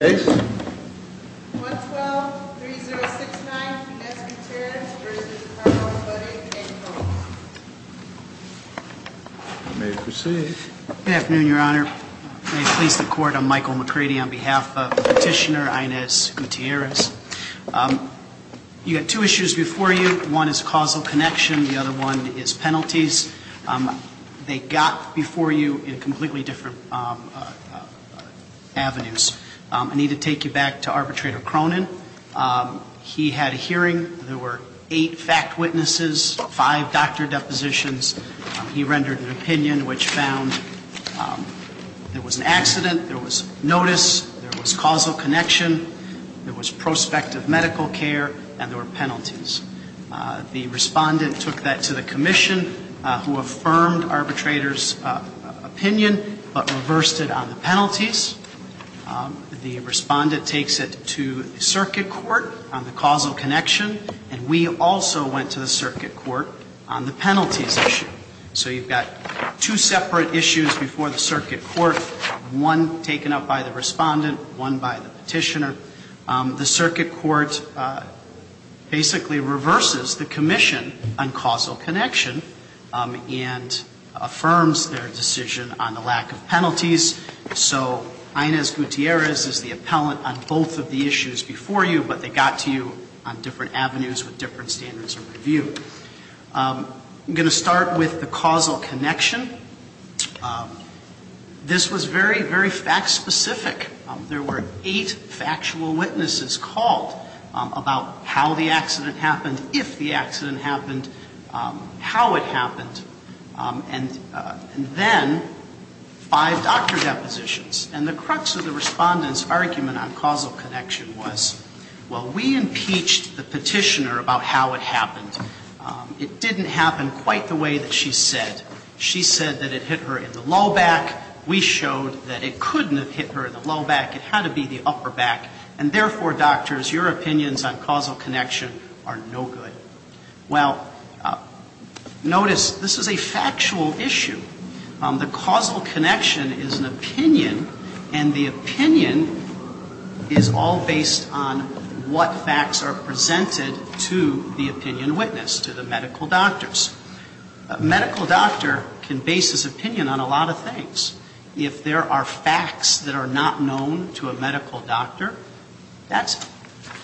Good afternoon, Your Honor. May it please the Court, I'm Michael McCready on behalf of Petitioner Inez Gutierrez. You had two issues before you. One is causal connection, the other one is penalties. They got before you in completely different avenues. I need to take you back to Arbitrator Cronin. He had a hearing. There were eight fact witnesses, five doctor depositions. He rendered an opinion which found there was an accident, there was notice, there was causal connection, there was prospective medical care, and there were to the Commission who affirmed Arbitrator's opinion but reversed it on the penalties. The Respondent takes it to Circuit Court on the causal connection, and we also went to the Circuit Court on the penalties issue. So you've got two separate issues before the Circuit Court, one taken up by the Respondent, one by the Petitioner. The Circuit Court basically reverses the Commission on causal connection and affirms their decision on the lack of penalties. So Inez Gutierrez is the appellant on both of the issues before you, but they got to you on different avenues with different standards of review. I'm going to start with the causal connection. This was very, very fact specific. There were eight factual witnesses called about how the accident happened, if the accident happened, how it happened, and then five doctor depositions. And the crux of the Respondent's argument on causal connection was, well, we impeached the Petitioner about how it happened. It didn't happen quite the way that she said. She said that it hit her in the low back. We showed that it couldn't have hit her low back. It had to be the upper back. And therefore, doctors, your opinions on causal connection are no good. Well, notice this is a factual issue. The causal connection is an opinion, and the opinion is all based on what facts are presented to the opinion witness, to the medical doctors. A medical doctor can base his opinion on a lot of things. If there are facts that are not known to a medical doctor, that's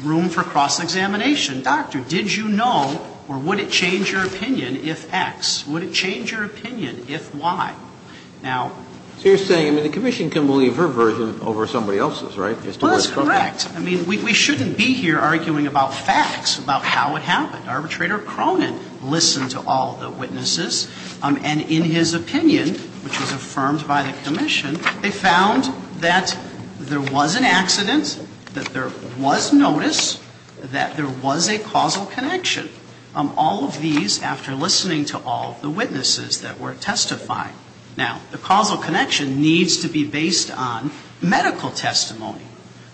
room for cross-examination. Doctor, did you know, or would it change your opinion if X? Would it change your opinion if Y? Now... So you're saying, I mean, the Commission can believe her version over somebody else's, right? Well, that's correct. I mean, we shouldn't be here arguing about facts, about how it happened. Arbitrator Cronin listened to all the witnesses, and in his opinion, which was affirmed by the Commission, they found that there was an accident, that there was notice, that there was a causal connection. All of these after listening to all the witnesses that were testifying. Now, the causal connection needs to be based on medical testimony.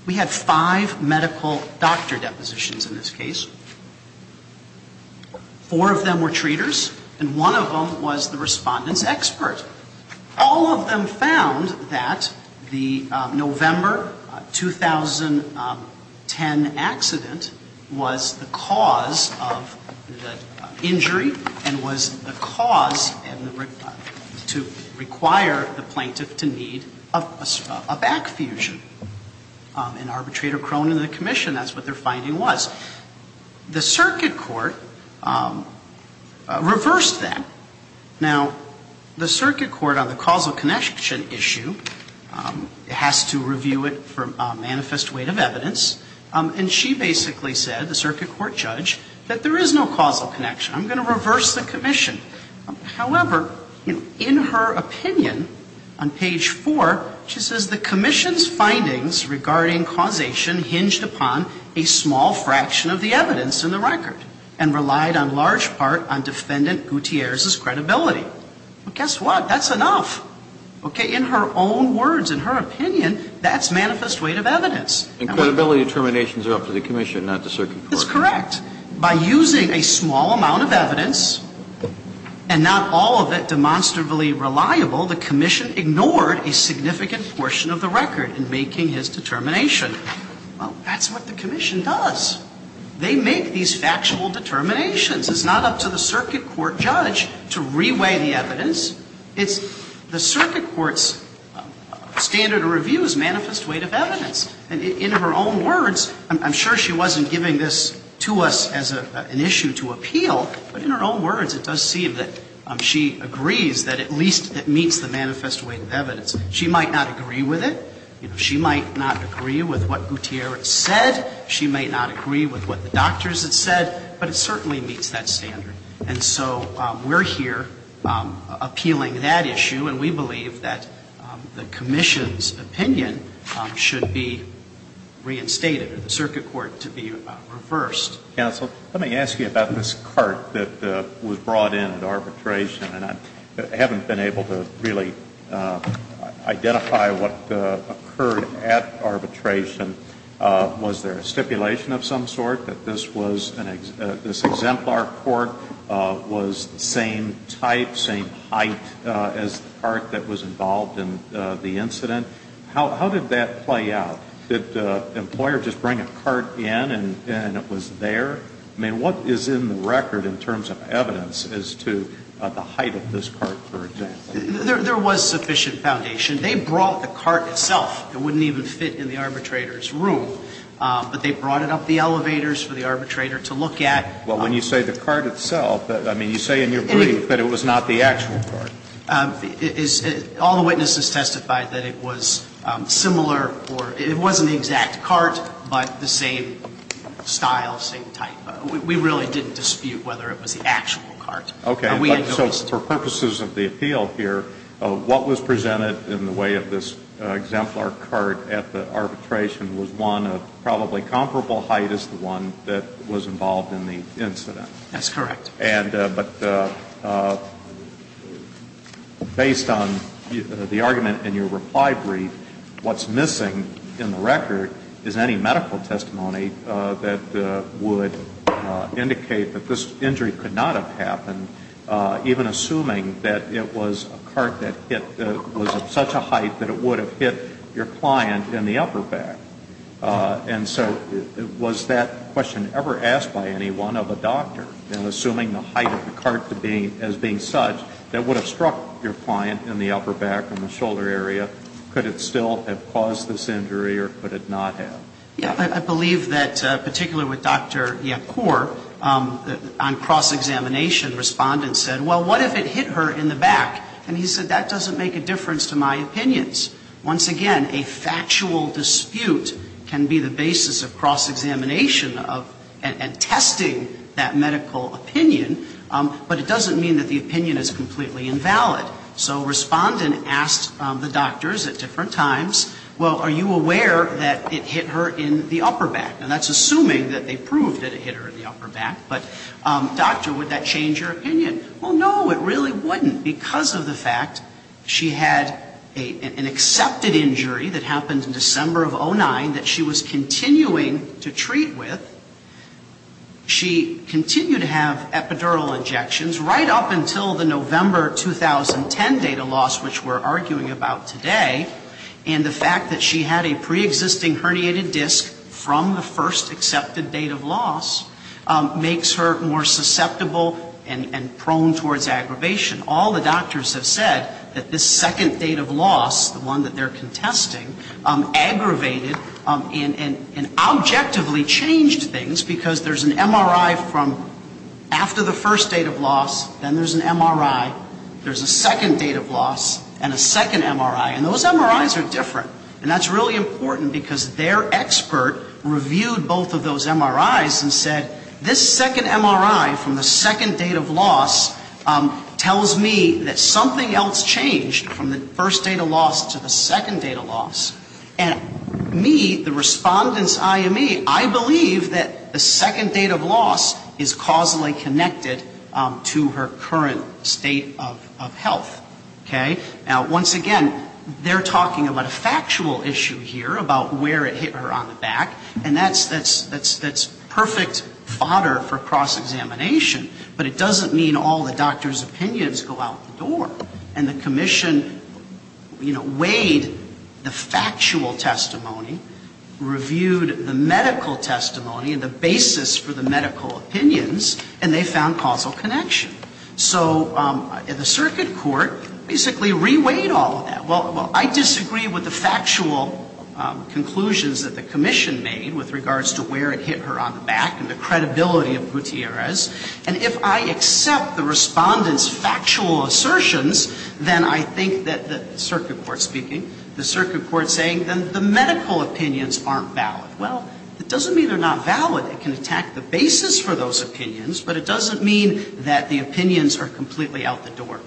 We have five medical doctor depositions in this case. Four of them were treaters, and one of them was the Respondent's expert. All of them found that the November 2010 accident was the cause of the injury, and was the cause to require the plaintiff to need a back fusion. And Arbitrator Cronin and the Commission, that's what their finding was. The circuit court reversed that. Now, the circuit court on the causal connection issue has to review it for manifest weight of evidence, and she basically said, the circuit court judge, that there is no causal connection. I'm going to reverse the Commission. However, in her opinion, on page 4, she says, the Commission's findings regarding causation hinged upon a small fraction of the evidence in the record, and relied on large part on Defendant Gutierrez's credibility. Well, guess what? That's enough. Okay? In her own words, in her opinion, that's manifest weight of evidence. And credibility determination is up to the Commission, not the circuit court. By using a small amount of evidence, and not all of it demonstrably reliable, the Commission ignored a significant portion of the record in making his determination. Well, that's what the Commission does. They make these factual determinations. It's not up to the circuit court judge to reweigh the evidence. It's the circuit court's standard of review's manifest weight of evidence. And in her own words, I'm sure she wasn't giving this to us as an issue to appeal, but in her own words, it does seem that she agrees that at least it meets the manifest weight of evidence. She might not agree with it. You know, she might not agree with what Gutierrez said. She might not agree with what the doctors had said. But it certainly meets that standard. And so we're here appealing that issue, and we believe that the Commission's opinion should be reinstated, or the circuit court to be reversed. Counsel, let me ask you about this cart that was brought in at arbitration. And I haven't been able to really identify what occurred at arbitration. Was there a stipulation of some sort that this exemplar court was the same type, same height as the cart that was involved in the incident? How did that play out? Did the employer just bring a cart in and it was there? I mean, what is in the record in terms of evidence as to the height of this cart, for example? There was sufficient foundation. They brought the cart itself. It wouldn't even fit in the arbitrator's room. But they brought it up the elevators for the arbitrator to look at. Well, when you say the cart itself, I mean, you say in your brief that it was not the actual cart. All the witnesses testified that it was similar or it wasn't the exact cart, but the same style, same type. We really didn't dispute whether it was the actual cart. Okay. And we had no dispute. So for purposes of the appeal here, what was presented in the way of this exemplar cart at the arbitration was one of probably comparable height as the one that was involved in the incident. That's correct. But based on the argument in your reply brief, what's missing in the record is any medical testimony that would indicate that this injury could not have happened, even assuming that it was a cart that was of such a height that it would have hit your client in the upper back, in the shoulder area, could it still have caused this injury or could it not have? Yeah. I believe that, particularly with Dr. Yacour, on cross-examination, respondents said, well, what if it hit her in the back? And he said, that doesn't make a difference to my opinions. Once again, a factual dispute can be the basis of But it doesn't mean that the opinion is completely invalid. So respondent asked the doctors at different times, well, are you aware that it hit her in the upper back? Now, that's assuming that they proved that it hit her in the upper back. But, doctor, would that change your opinion? Well, no, it really wouldn't because of the fact she had an accepted injury that happened in December of 09 that she was continuing to treat with. She continued to have epidural injections right up until the November 2010 data loss, which we're arguing about today. And the fact that she had a preexisting herniated disc from the first accepted date of loss makes her more susceptible and prone towards aggravation. All the doctors have said that this second date of loss, the one that they're contesting, aggravated and objectively changed things because there's an MRI from after the first date of loss, then there's an MRI, there's a second date of loss, and a second MRI. And those MRIs are different. And that's really important because their expert reviewed both of those MRIs and said, this second MRI from the second date of loss tells me that something else changed from the first date of loss to the second date of loss. And me, the Respondent's IME, I believe that the second date of loss is causally connected to her current state of health. Okay? Now, once again, they're talking about a factual issue here about where it hit her on the back, and that's perfect fodder for cross-examination, but it doesn't mean all the doctors' opinions go out the door. And the Commission, you know, weighed the factual testimony, reviewed the medical testimony and the basis for the medical opinions, and they found causal connection. So the circuit court basically re-weighed all of that. Well, I disagree with the factual conclusions that the Commission made with regards to where it hit her on the back and the credibility of Gutierrez. And if I accept the Respondent's factual assertions, then I think that the circuit court speaking, the circuit court saying, then the medical opinions aren't valid. Well, that doesn't mean they're not valid. It can attack the basis for those opinions, but it doesn't mean that the opinions are completely out the door.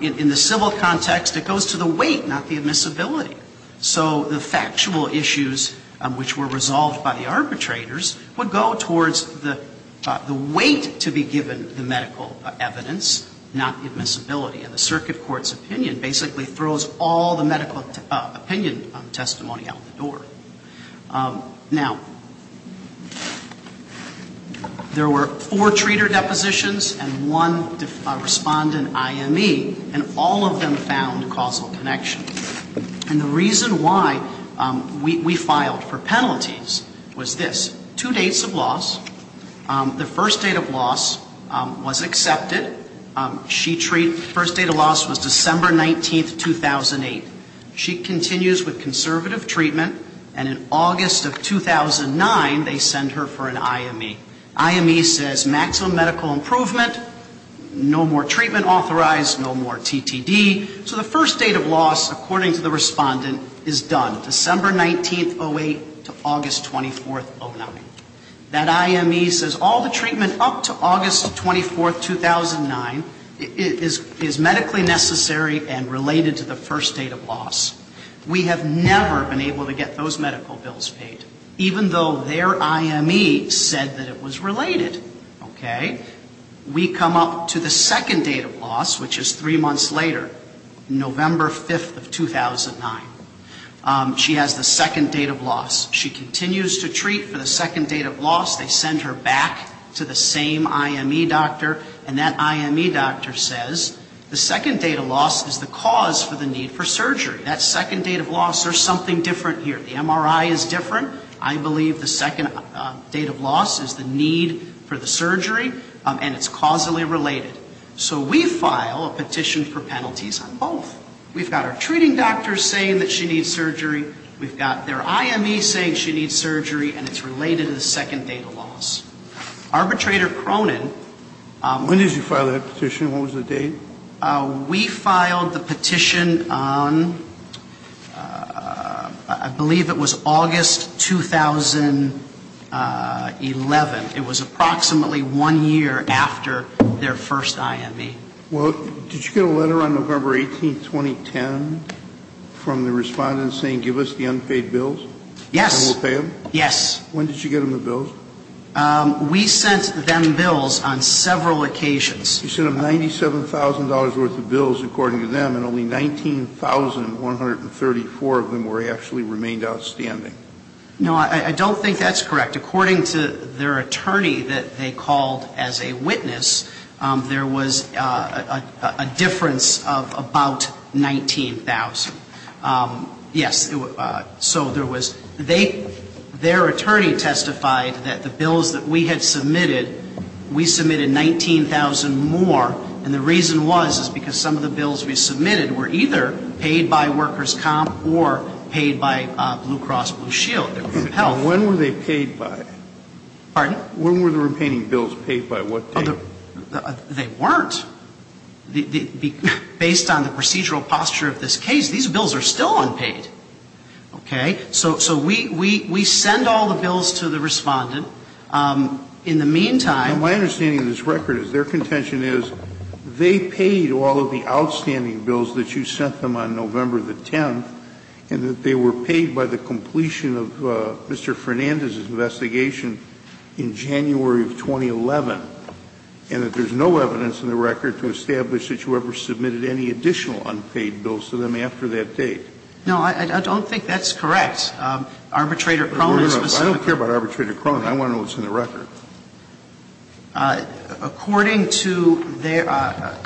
In the civil context, it goes to the weight, not the admissibility. So the factual issues which were resolved by the arbitrators would go towards the weight to be given the medical evidence, not the admissibility. And the circuit court's opinion basically throws all the medical opinion testimony out the door. Now, there were four treater depositions and one Respondent I.M.E., and all of them found causal connection. And the reason why we filed for penalties was this. Two dates of loss. The first date of loss was accepted. She treated, the first date of loss was December 19, 2008. She continues with conservative treatment, and in August of 2009, they send her for an I.M.E. I.M.E. says maximum medical improvement, no more treatment authorized, no more T.T.D., so the first date of loss, according to the Respondent, is done, December 19, 2008 to August 24, 2009. That I.M.E. says all the treatment up to August 24, 2009 is medically necessary and related to the first date of loss. We have never been able to get those medical bills paid, even though their I.M.E. said that it was related. Okay? We come up to the second date of loss, which is three months later, November 5, 2009. She has the second date of loss. She continues to treat for the second date of loss. They send her back to the same I.M.E. doctor, and that I.M.E. doctor says the second date of loss is the cause for the need for surgery. That second date of loss, there's something different here. The MRI is different. I believe the second date of loss is the need for the surgery, and it's causally related. So we file a petition for penalties on both. We've got our treating doctor saying that she needs surgery. We've got their I.M.E. saying she needs surgery, and it's related to the second date of loss. Arbitrator Cronin... When did you file that petition? What was the date? We filed the petition on, I believe it was August 2011. It was approximately one year after their first I.M.E. Well, did you get a letter on November 18, 2010, from the respondents saying give us the unpaid bills? Yes. And we'll pay them? Yes. When did you get them the bills? We sent them bills on several occasions. You sent them $97,000 worth of bills, according to them, and only 19,134 of them actually remained outstanding. No, I don't think that's correct. According to their attorney that they called as a witness, there was a difference of about 19,000. Yes. So there was they, their attorney testified that the bills that we had submitted, we submitted 19,000 more, and the reason was is because some of the bills we submitted were either paid by workers' comp or paid by Blue Cross Blue Shield. When were they paid by? Pardon? When were the remaining bills paid by? What date? They weren't. Based on the procedural posture of this case, these bills are still unpaid. Okay? So we send all the bills to the respondent. In the meantime... My understanding of this record is their contention is they paid all of the outstanding bills that you sent them on November the 10th, and that they were paid by the completion of Mr. Fernandez's investigation in January of 2011, and that there's no evidence in the record to establish that you ever submitted any additional unpaid bills to them after that date. No, I don't think that's correct. Arbitrator Cronin specifically... I don't care about Arbitrator Cronin. I want to know what's in the record. According to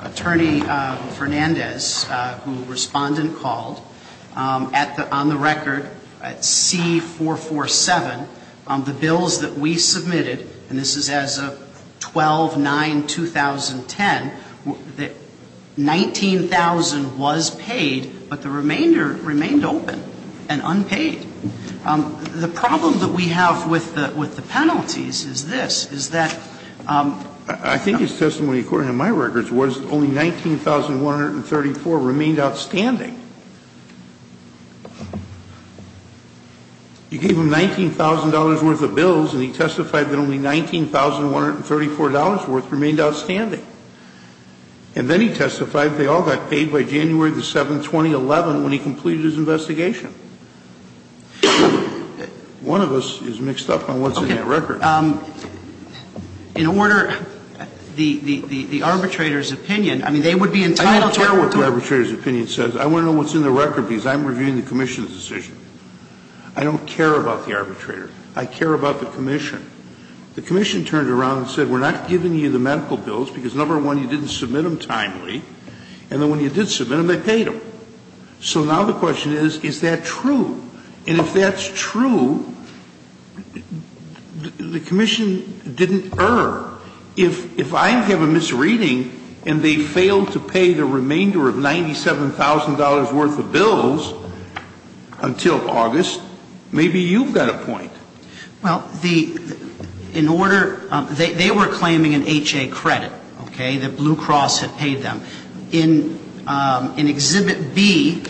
Attorney Fernandez, who a respondent called, on the record, at C447, the bills that we submitted, and this is as of 12-9-2010, 19,000 was paid, but the remainder remained open and unpaid. The problem that we have with the penalties is this, is that... I think his testimony, according to my records, was only 19,134 remained outstanding. You gave him $19,000 worth of bills, and he testified that only $19,134 worth remained outstanding. And then he testified they all got paid by January the 7th, 2011, when he completed his investigation. One of us is mixed up on what's in that record. In order, the arbitrator's opinion, I mean, they would be entitled to... I don't care what the arbitrator's opinion says. I want to know what's in the record, because I'm reviewing the commission's decision. I don't care about the arbitrator. I care about the commission. The commission turned around and said, we're not giving you the medical bills because, number one, you didn't submit them timely, and then when you did submit them, they paid them. So now the question is, is that true? And if that's true, the commission didn't err. If I have a misreading and they failed to pay the remainder of $97,000 worth of bills until August, maybe you've got a point. Well, the... In order... They were claiming an H.A. credit, okay, that Blue Cross had paid them. In Exhibit B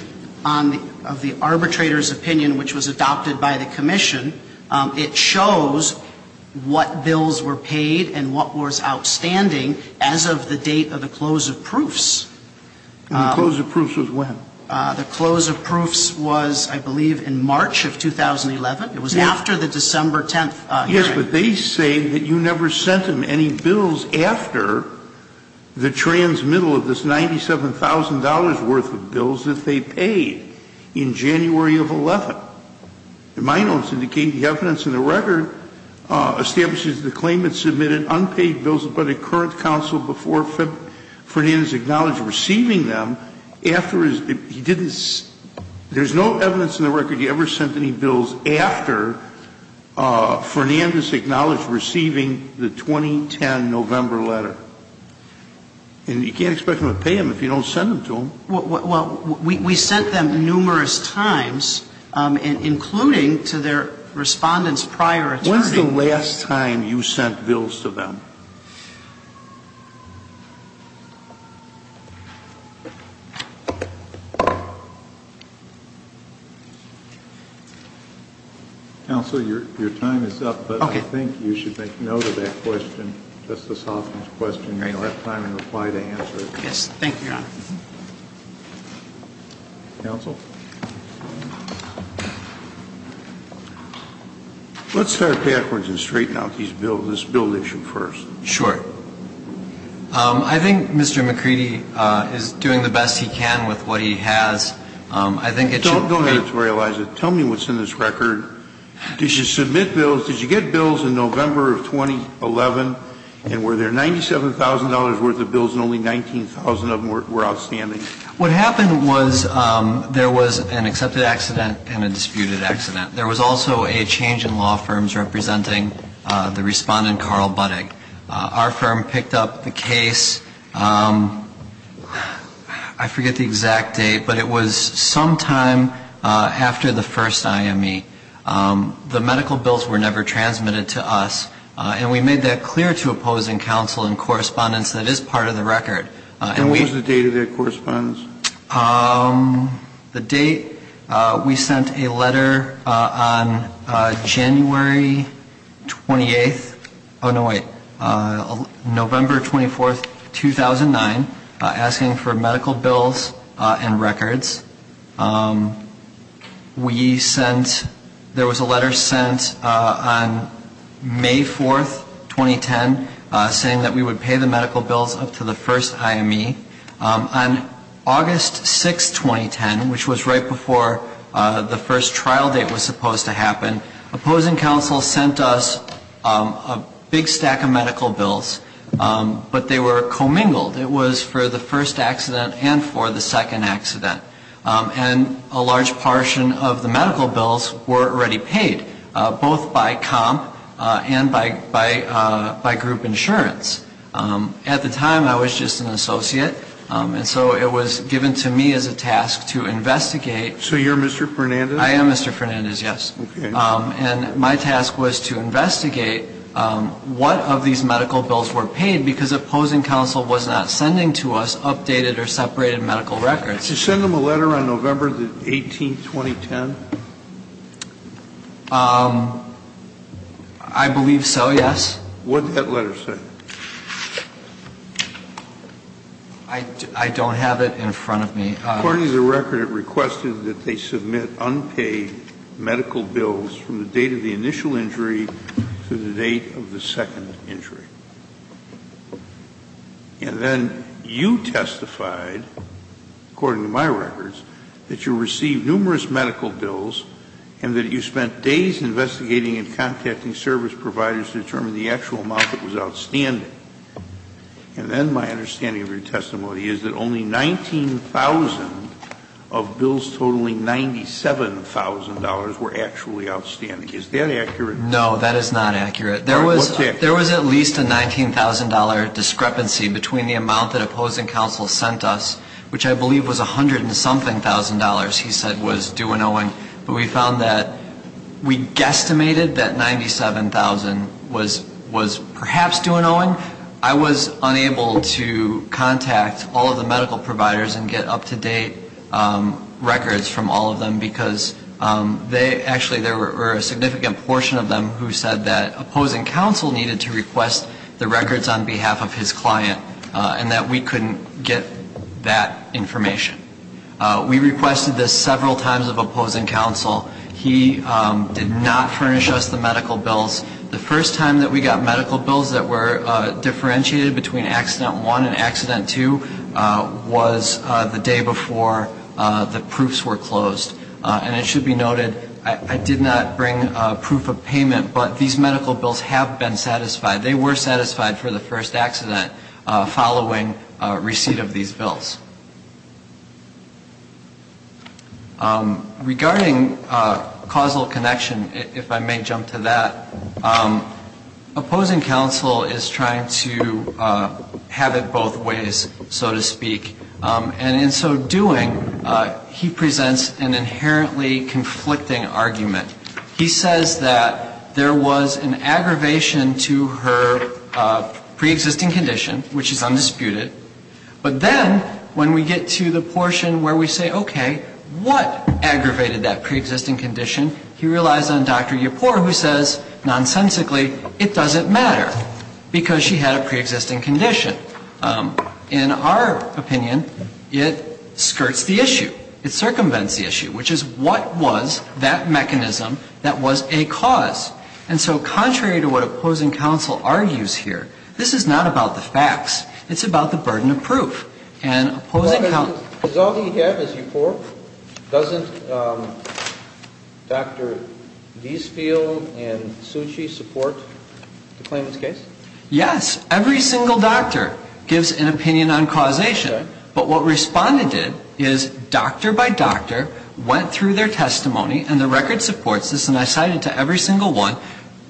of the arbitrator's opinion, which was adopted by the commission, it shows what bills were paid and what was outstanding as of the date of the close of proofs. And the close of proofs was when? The close of proofs was, I believe, in March of 2011. It was after the December 10th hearing. But they say that you never sent them any bills after the transmittal of this $97,000 worth of bills that they paid in January of 11th. And my notes indicate the evidence in the record establishes the claimant submitted unpaid bills before the current counsel before Fernandez acknowledged receiving them after his... He didn't... There's no evidence in the record you ever sent any bills after Fernandez acknowledged receiving the 2010 November letter. And you can't expect them to pay them if you don't send them to them. Well, we sent them numerous times, including to their Respondent's prior attorney. When's the last time you sent bills to them? Counsel, your time is up. Okay. But I think you should make note of that question, Justice Hoffman's question. Great. You'll have time in reply to answer it. Yes. Thank you, Your Honor. Counsel? Let's start backwards and straighten out this bill issue first. Sure. I think Mr. McCready is doing the best he can with what he has. I think... Don't editorialize it. Tell me what's in this record. Did you submit bills? Did you get bills in November of 2011? And were there $97,000 worth of bills and only 19,000 of them were outstanding? What happened was there was an accepted accident and a disputed accident. There was also a change in law firms representing the Respondent, Carl Buddig. Our firm picked up the bill. It was sometime after the first IME. The medical bills were never transmitted to us. And we made that clear to opposing counsel and Correspondents that it is part of the record. And what was the date of that, Correspondents? The date? We sent a letter on January 28th. Oh, no, wait. November 24th, 2009, asking for medical bills. We sent, there was a letter sent on May 4th, 2010, saying that we would pay the medical bills up to the first IME. On August 6th, 2010, which was right before the first trial date was supposed to happen, opposing counsel sent us a big stack of medical bills, but they were commingled. It was for the first accident and for the second accident. And a large portion of the medical bills were already paid, both by comp and by group insurance. At the time, I was just an associate, and so it was given to me as a task to investigate. So you're Mr. Fernandez? I am Mr. Fernandez, yes. Okay. And my task was to investigate what of these medical bills were paid, because opposing counsel was not sending to us updated or separated medical records. Did you send them a letter on November 18th, 2010? I believe so, yes. What did that letter say? I don't have it in front of me. According to the record, it requested that they submit unpaid medical bills from the date of the initial injury to the date of the second injury. And then you testified, according to my records, that you received numerous medical bills and that you spent days investigating and contacting service providers to determine the actual amount that was outstanding. And then my understanding of your testimony is that only 19,000 of bills totaling $97,000 were actually outstanding. Is that accurate? No, that is not accurate. What's accurate? There was at least a $19,000 discrepancy between the amount that opposing counsel sent us, which I believe was a hundred and something thousand dollars he said was due and owing. But we found that we guesstimated that 97,000 was perhaps due and owing. And we did not mandate records from all of them, because they actually, there were a significant portion of them who said that opposing counsel needed to request the records on behalf of his client and that we couldn't get that information. We requested this several times of opposing counsel. He did not furnish us the medical bills. The first time that we got medical bills that were due was before the proofs were closed. And it should be noted, I did not bring proof of payment, but these medical bills have been satisfied. They were satisfied for the first accident following receipt of these bills. Regarding causal connection, if I may jump to that, opposing counsel is trying to have it both ways, so to speak. And in so doing, he presents an inherently conflicting argument. He says that there was an aggravation to her preexisting condition, which is undisputed. But then when we get to the portion where we say, okay, what aggravated that preexisting condition, he relies on Dr. Yipor who says nonsensically it doesn't matter because she had a preexisting condition. In our opinion, it skirts the issue. It circumvents the issue, which is what was that mechanism that was a cause. And so contrary to what opposing counsel argues here, this is not about the facts. It's about the burden of proof. And opposing counsel doesn't, does all he have is Yipor? Doesn't Dr. Deesfield and Succi support the claimant's case? Yes. Every single doctor gives an opinion on causation. But what Respondent did is doctor by doctor went through their testimony, and the record supports this, and I cited to every single one,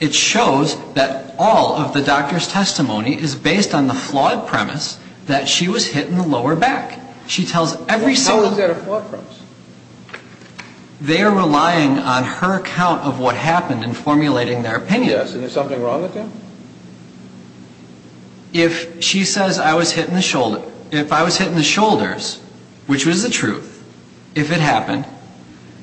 it shows that all of the doctor's testimony is based on the flawed premise that she was hit in the lower back. She tells every single How is that a flawed premise? They are relying on her account of what happened in formulating their opinion. Yes. Is there something wrong with that? If she says I was hit in the shoulder, if I was hit in the shoulders, which was the truth, if it happened,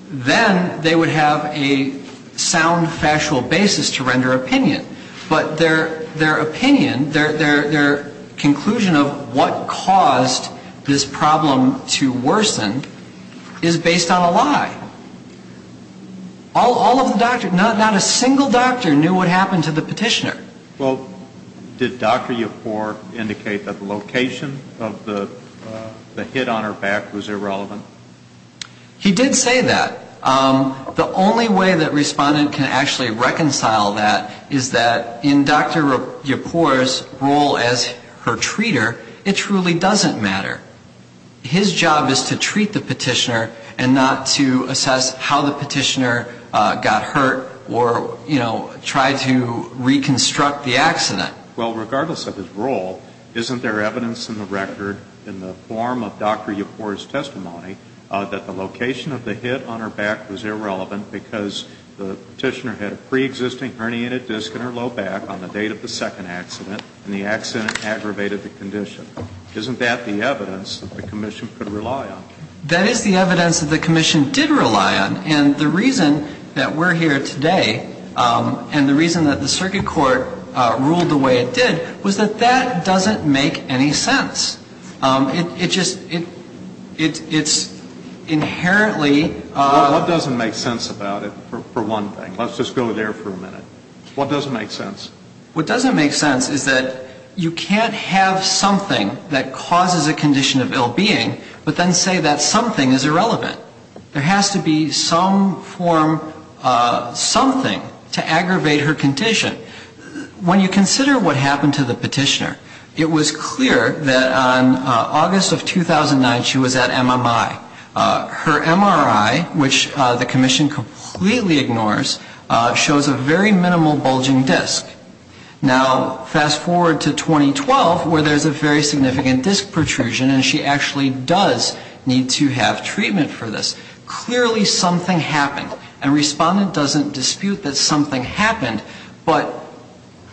then they would have a sound factual basis to render their opinion. But their opinion, their conclusion of what caused this problem to worsen is based on a lie. All of the doctors, not a single doctor knew what happened to the petitioner. Well, did Dr. Yipor indicate that the location of the hit on her back was irrelevant? He did say that. The only way that Respondent can actually reconcile that is that in Dr. Yipor's role as her treater, it truly doesn't matter. His job is to treat the petitioner and not to assess how the petitioner got hurt or, you know, try to reconstruct the accident. Well, regardless of his role, isn't there evidence in the record in the form of Dr. Yipor's testimony that the location of the hit on her back was irrelevant because the petitioner had a preexisting herniated disc in her low back on the date of the second accident and the accident aggravated the condition? Isn't that the evidence that the commission could rely on? That is the evidence that the commission did rely on. And the reason that we're here today and the reason that the circuit court ruled the way it did was that that doesn't make any sense. It just ‑‑ it's inherently ‑‑ What doesn't make sense about it, for one thing? Let's just go there for a minute. What doesn't make sense? What doesn't make sense is that you can't have something that causes a condition of ill being but then say that something is irrelevant. There has to be some form of something to aggravate her condition. When you consider what happened to the petitioner, it was clear that on August of 2009 she was at MMI. Her MRI, which the commission completely ignores, shows a very minimal bulging disc. Now, fast forward to 2012 where there's a very significant disc protrusion and she actually does need to have treatment for this. Clearly something happened. And Respondent doesn't dispute that something happened, but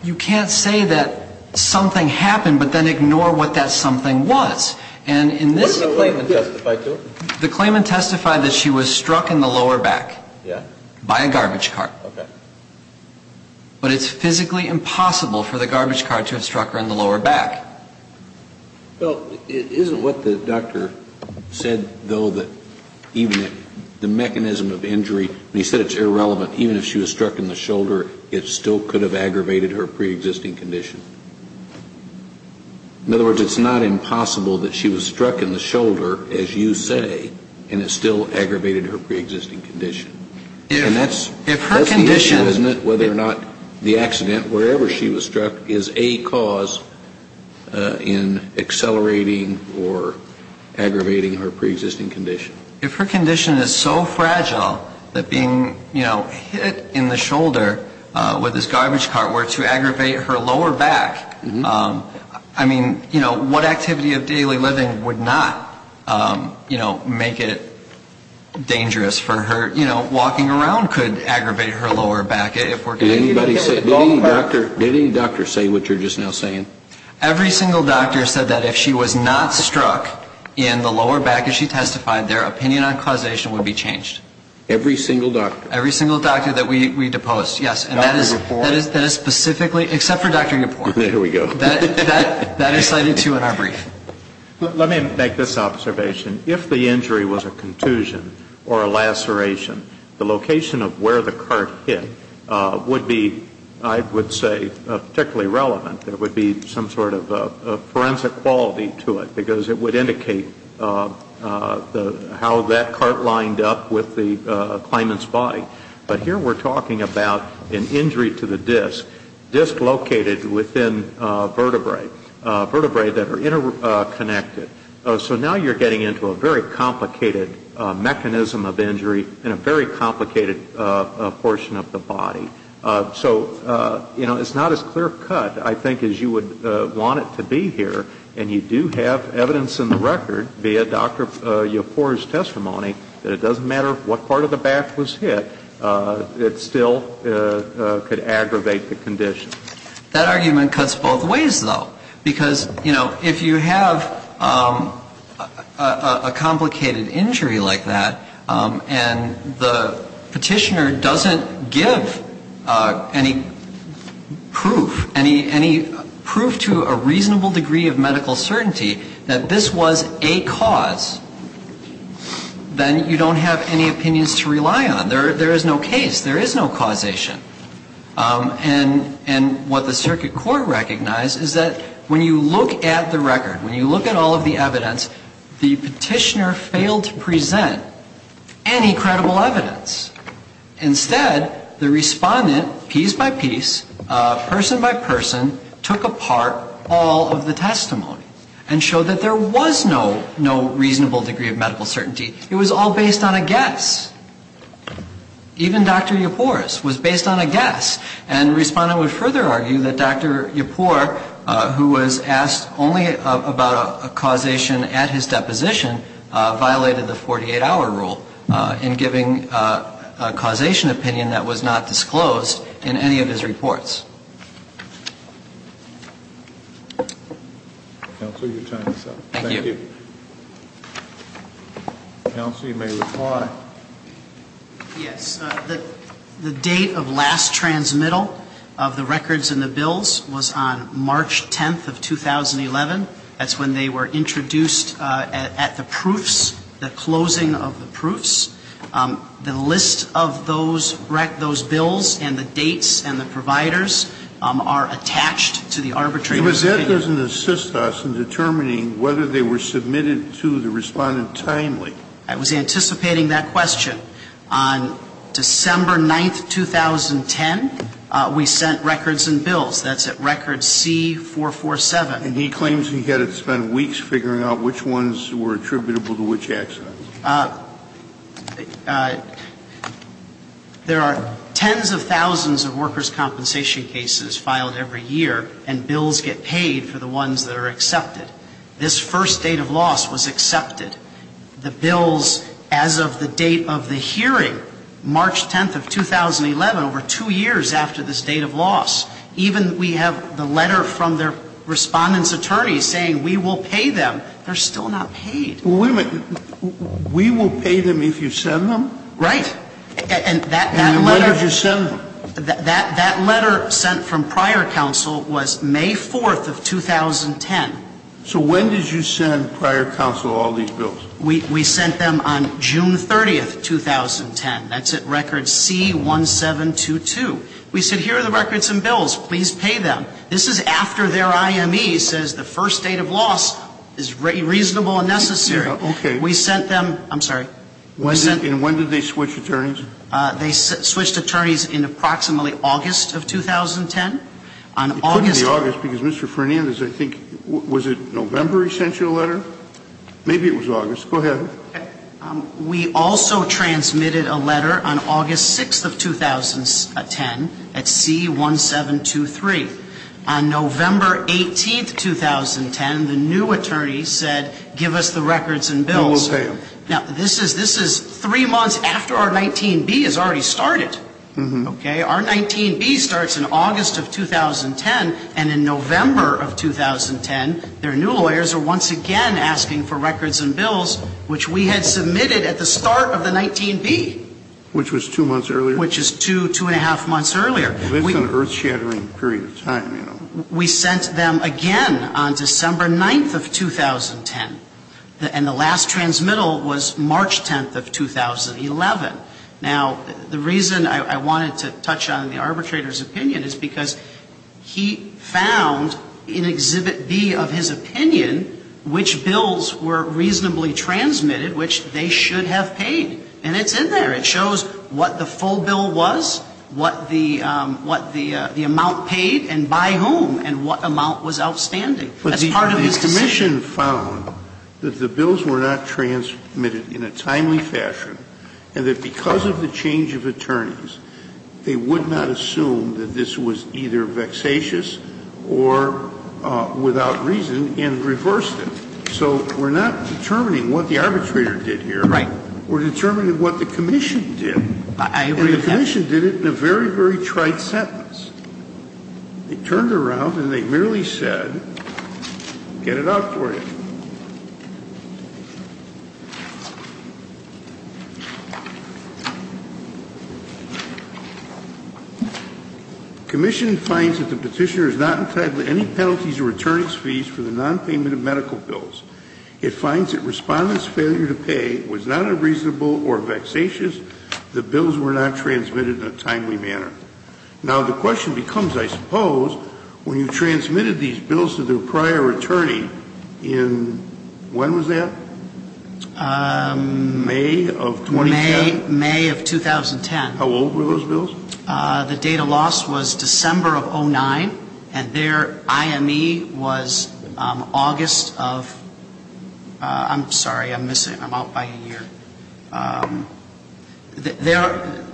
you can't say that something happened but then ignore what that something was. What did the claimant testify to? The claimant testified that she was struck in the lower back. Yeah? By a garbage cart. Okay. But it's physically impossible for the garbage cart to have struck her in the lower back. Well, isn't what the doctor said, though, that even the mechanism of injury, when he said it's irrelevant, even if she was struck in the shoulder, it still could have aggravated her preexisting condition? In other words, it's not impossible that she was struck in the shoulder, as you say, and it still aggravated her preexisting condition. If her condition And that's the issue, isn't it, whether or not the accident, wherever she was struck, is a cause in accelerating or aggravating her preexisting condition. If her condition is so fragile that being, you know, hit in the shoulder with this garbage cart were to aggravate her lower back, I mean, you know, what activity of daily living would not, you know, make it dangerous for her, you know, walking around could aggravate her lower back. Did anybody say, did any doctor say what you're just now saying? Every single doctor said that if she was not struck in the lower back, as she was, her opinion on causation would be changed. Every single doctor? Every single doctor that we deposed, yes. Dr. Yipor? That is specifically, except for Dr. Yipor. There we go. That is cited, too, in our brief. Let me make this observation. If the injury was a contusion or a laceration, the location of where the cart hit would be, I would say, particularly relevant. There would be some sort of forensic quality to it, because it would indicate how that cart lined up with the claimant's body. But here we're talking about an injury to the disc, disc located within vertebrae, vertebrae that are interconnected. So now you're getting into a very complicated mechanism of injury in a very complicated portion of the body. So, you know, it's not as clear cut, I think, as you would want it to be here. And you do have evidence in the record, via Dr. Yipor's testimony, that it doesn't matter what part of the back was hit, it still could aggravate the condition. That argument cuts both ways, though. Because, you know, if you have a complicated injury like that, and the petitioner doesn't give any proof, any proof to a reasonable degree of medical certainty that this was a cause, then you don't have any opinions to rely on. There is no case. There is no causation. And what the circuit court recognized is that when you look at the record, when you look at all of the evidence, the petitioner failed to present any credible evidence. Instead, the respondent, piece by piece, person by person, took apart all of the testimony and showed that there was no reasonable degree of medical certainty. It was all based on a guess. Even Dr. Yipor's was based on a guess. And the respondent would further argue that Dr. Yipor, who was asked only about a causation at his deposition, violated the 48-hour rule in giving a reasonable causation opinion that was not disclosed in any of his reports. Counsel, your time is up. Thank you. Counsel, you may reply. Yes. The date of last transmittal of the records and the bills was on March 10th of 2011. That's when they were introduced at the proofs, the closing of the proofs. The list of those bills and the dates and the providers are attached to the arbitrator's case. But that doesn't assist us in determining whether they were submitted to the respondent timely. I was anticipating that question. On December 9th, 2010, we sent records and bills. That's at record C447. And he claims he had to spend weeks figuring out which ones were attributable to which accident. There are tens of thousands of workers' compensation cases filed every year and bills get paid for the ones that are accepted. This first date of loss was accepted. The bills, as of the date of the hearing, March 10th of 2011, over two years after this date of loss, even we have the letter from their respondent's attorney saying we will pay them. They're still not paid. Wait a minute. We will pay them if you send them? Right. And that letter. And when did you send them? That letter sent from prior counsel was May 4th of 2010. So when did you send prior counsel all these bills? We sent them on June 30th, 2010. That's at record C1722. We said here are the records and bills. Please pay them. This is after their IME says the first date of loss is reasonable and necessary. Okay. We sent them. I'm sorry. And when did they switch attorneys? They switched attorneys in approximately August of 2010. It couldn't be August because Mr. Fernandez, I think, was it November he sent you a letter? Maybe it was August. Go ahead. We also transmitted a letter on August 6th of 2010 at C1723. On November 18th, 2010, the new attorney said give us the records and bills. We will pay them. Now, this is three months after our 19B has already started. Okay. Our 19B starts in August of 2010, and in November of 2010, their new lawyers are once again asking for records and bills, which we had submitted at the start of the 19B. Which was two months earlier? Which is two, two-and-a-half months earlier. This is an earth-shattering period of time, you know. We sent them again on December 9th of 2010, and the last transmittal was March 10th of 2011. Now, the reason I wanted to touch on the arbitrator's opinion is because he found in Exhibit B of his opinion which bills were reasonably transmitted, which they should have paid. And it's in there. It shows what the full bill was, what the amount paid, and by whom, and what amount was outstanding. That's part of his decision. But the commission found that the bills were not transmitted in a timely fashion, and that because of the change of attorneys, they would not assume that this was either vexatious or without reason, and reversed it. So we're not determining what the arbitrator did here. Right. We're determining what the commission did. I agree with that. And the commission did it in a very, very trite sentence. They turned around and they merely said, get it out for you. The commission finds that the petitioner has not entitled any penalties or returning fees for the nonpayment of medical bills. It finds that Respondent's failure to pay was not unreasonable or vexatious. The bills were not transmitted in a timely manner. Now, the question becomes, I suppose, when you've transmitted these bills to the prior attorney When was that? May of 2010. May of 2010. How old were those bills? The date of loss was December of 2009, and their IME was August of, I'm sorry, I'm missing, I'm out by a year. Their,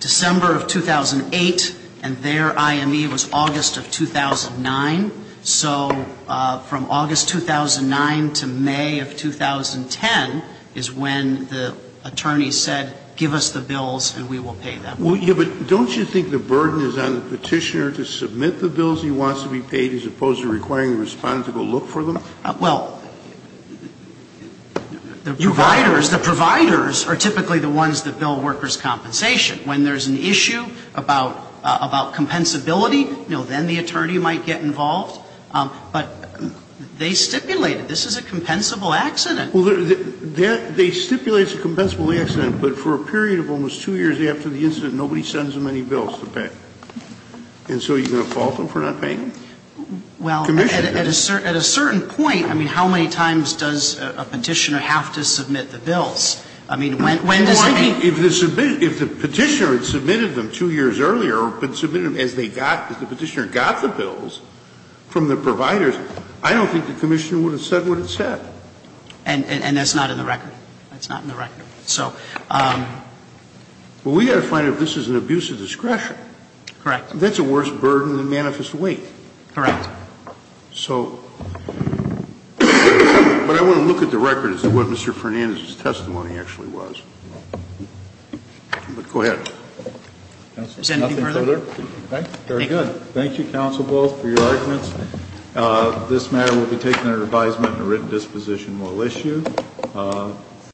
December of 2008, and their IME was August of 2009. So from August 2009 to May of 2010 is when the attorney said, give us the bills and we will pay them. Yeah, but don't you think the burden is on the petitioner to submit the bills he wants to be paid as opposed to requiring the Respondent to go look for them? Well, the providers, the providers are typically the ones that bill workers' compensation. When there's an issue about, about compensability, you know, then the attorney might get involved. But they stipulated, this is a compensable accident. Well, they stipulate it's a compensable accident, but for a period of almost two years after the incident, nobody sends them any bills to pay. And so you're going to fault them for not paying them? Well, at a certain point, I mean, how many times does a petitioner have to submit the bills? I mean, when does they? Well, I mean, if the petitioner had submitted them two years earlier or submitted them as they got, as the petitioner got the bills from the providers, I don't think the Commissioner would have said what it said. And that's not in the record. That's not in the record. So. Well, we've got to find out if this is an abuse of discretion. Correct. That's a worse burden than manifest weight. Correct. So. But I want to look at the record as to what Mr. Fernandez's testimony actually was. But go ahead. Is there anything further? Nothing further? Okay. Thank you. Very good. Thank you, Counsel Bull, for your arguments. This matter will be taken under advisement and a written disposition will issue.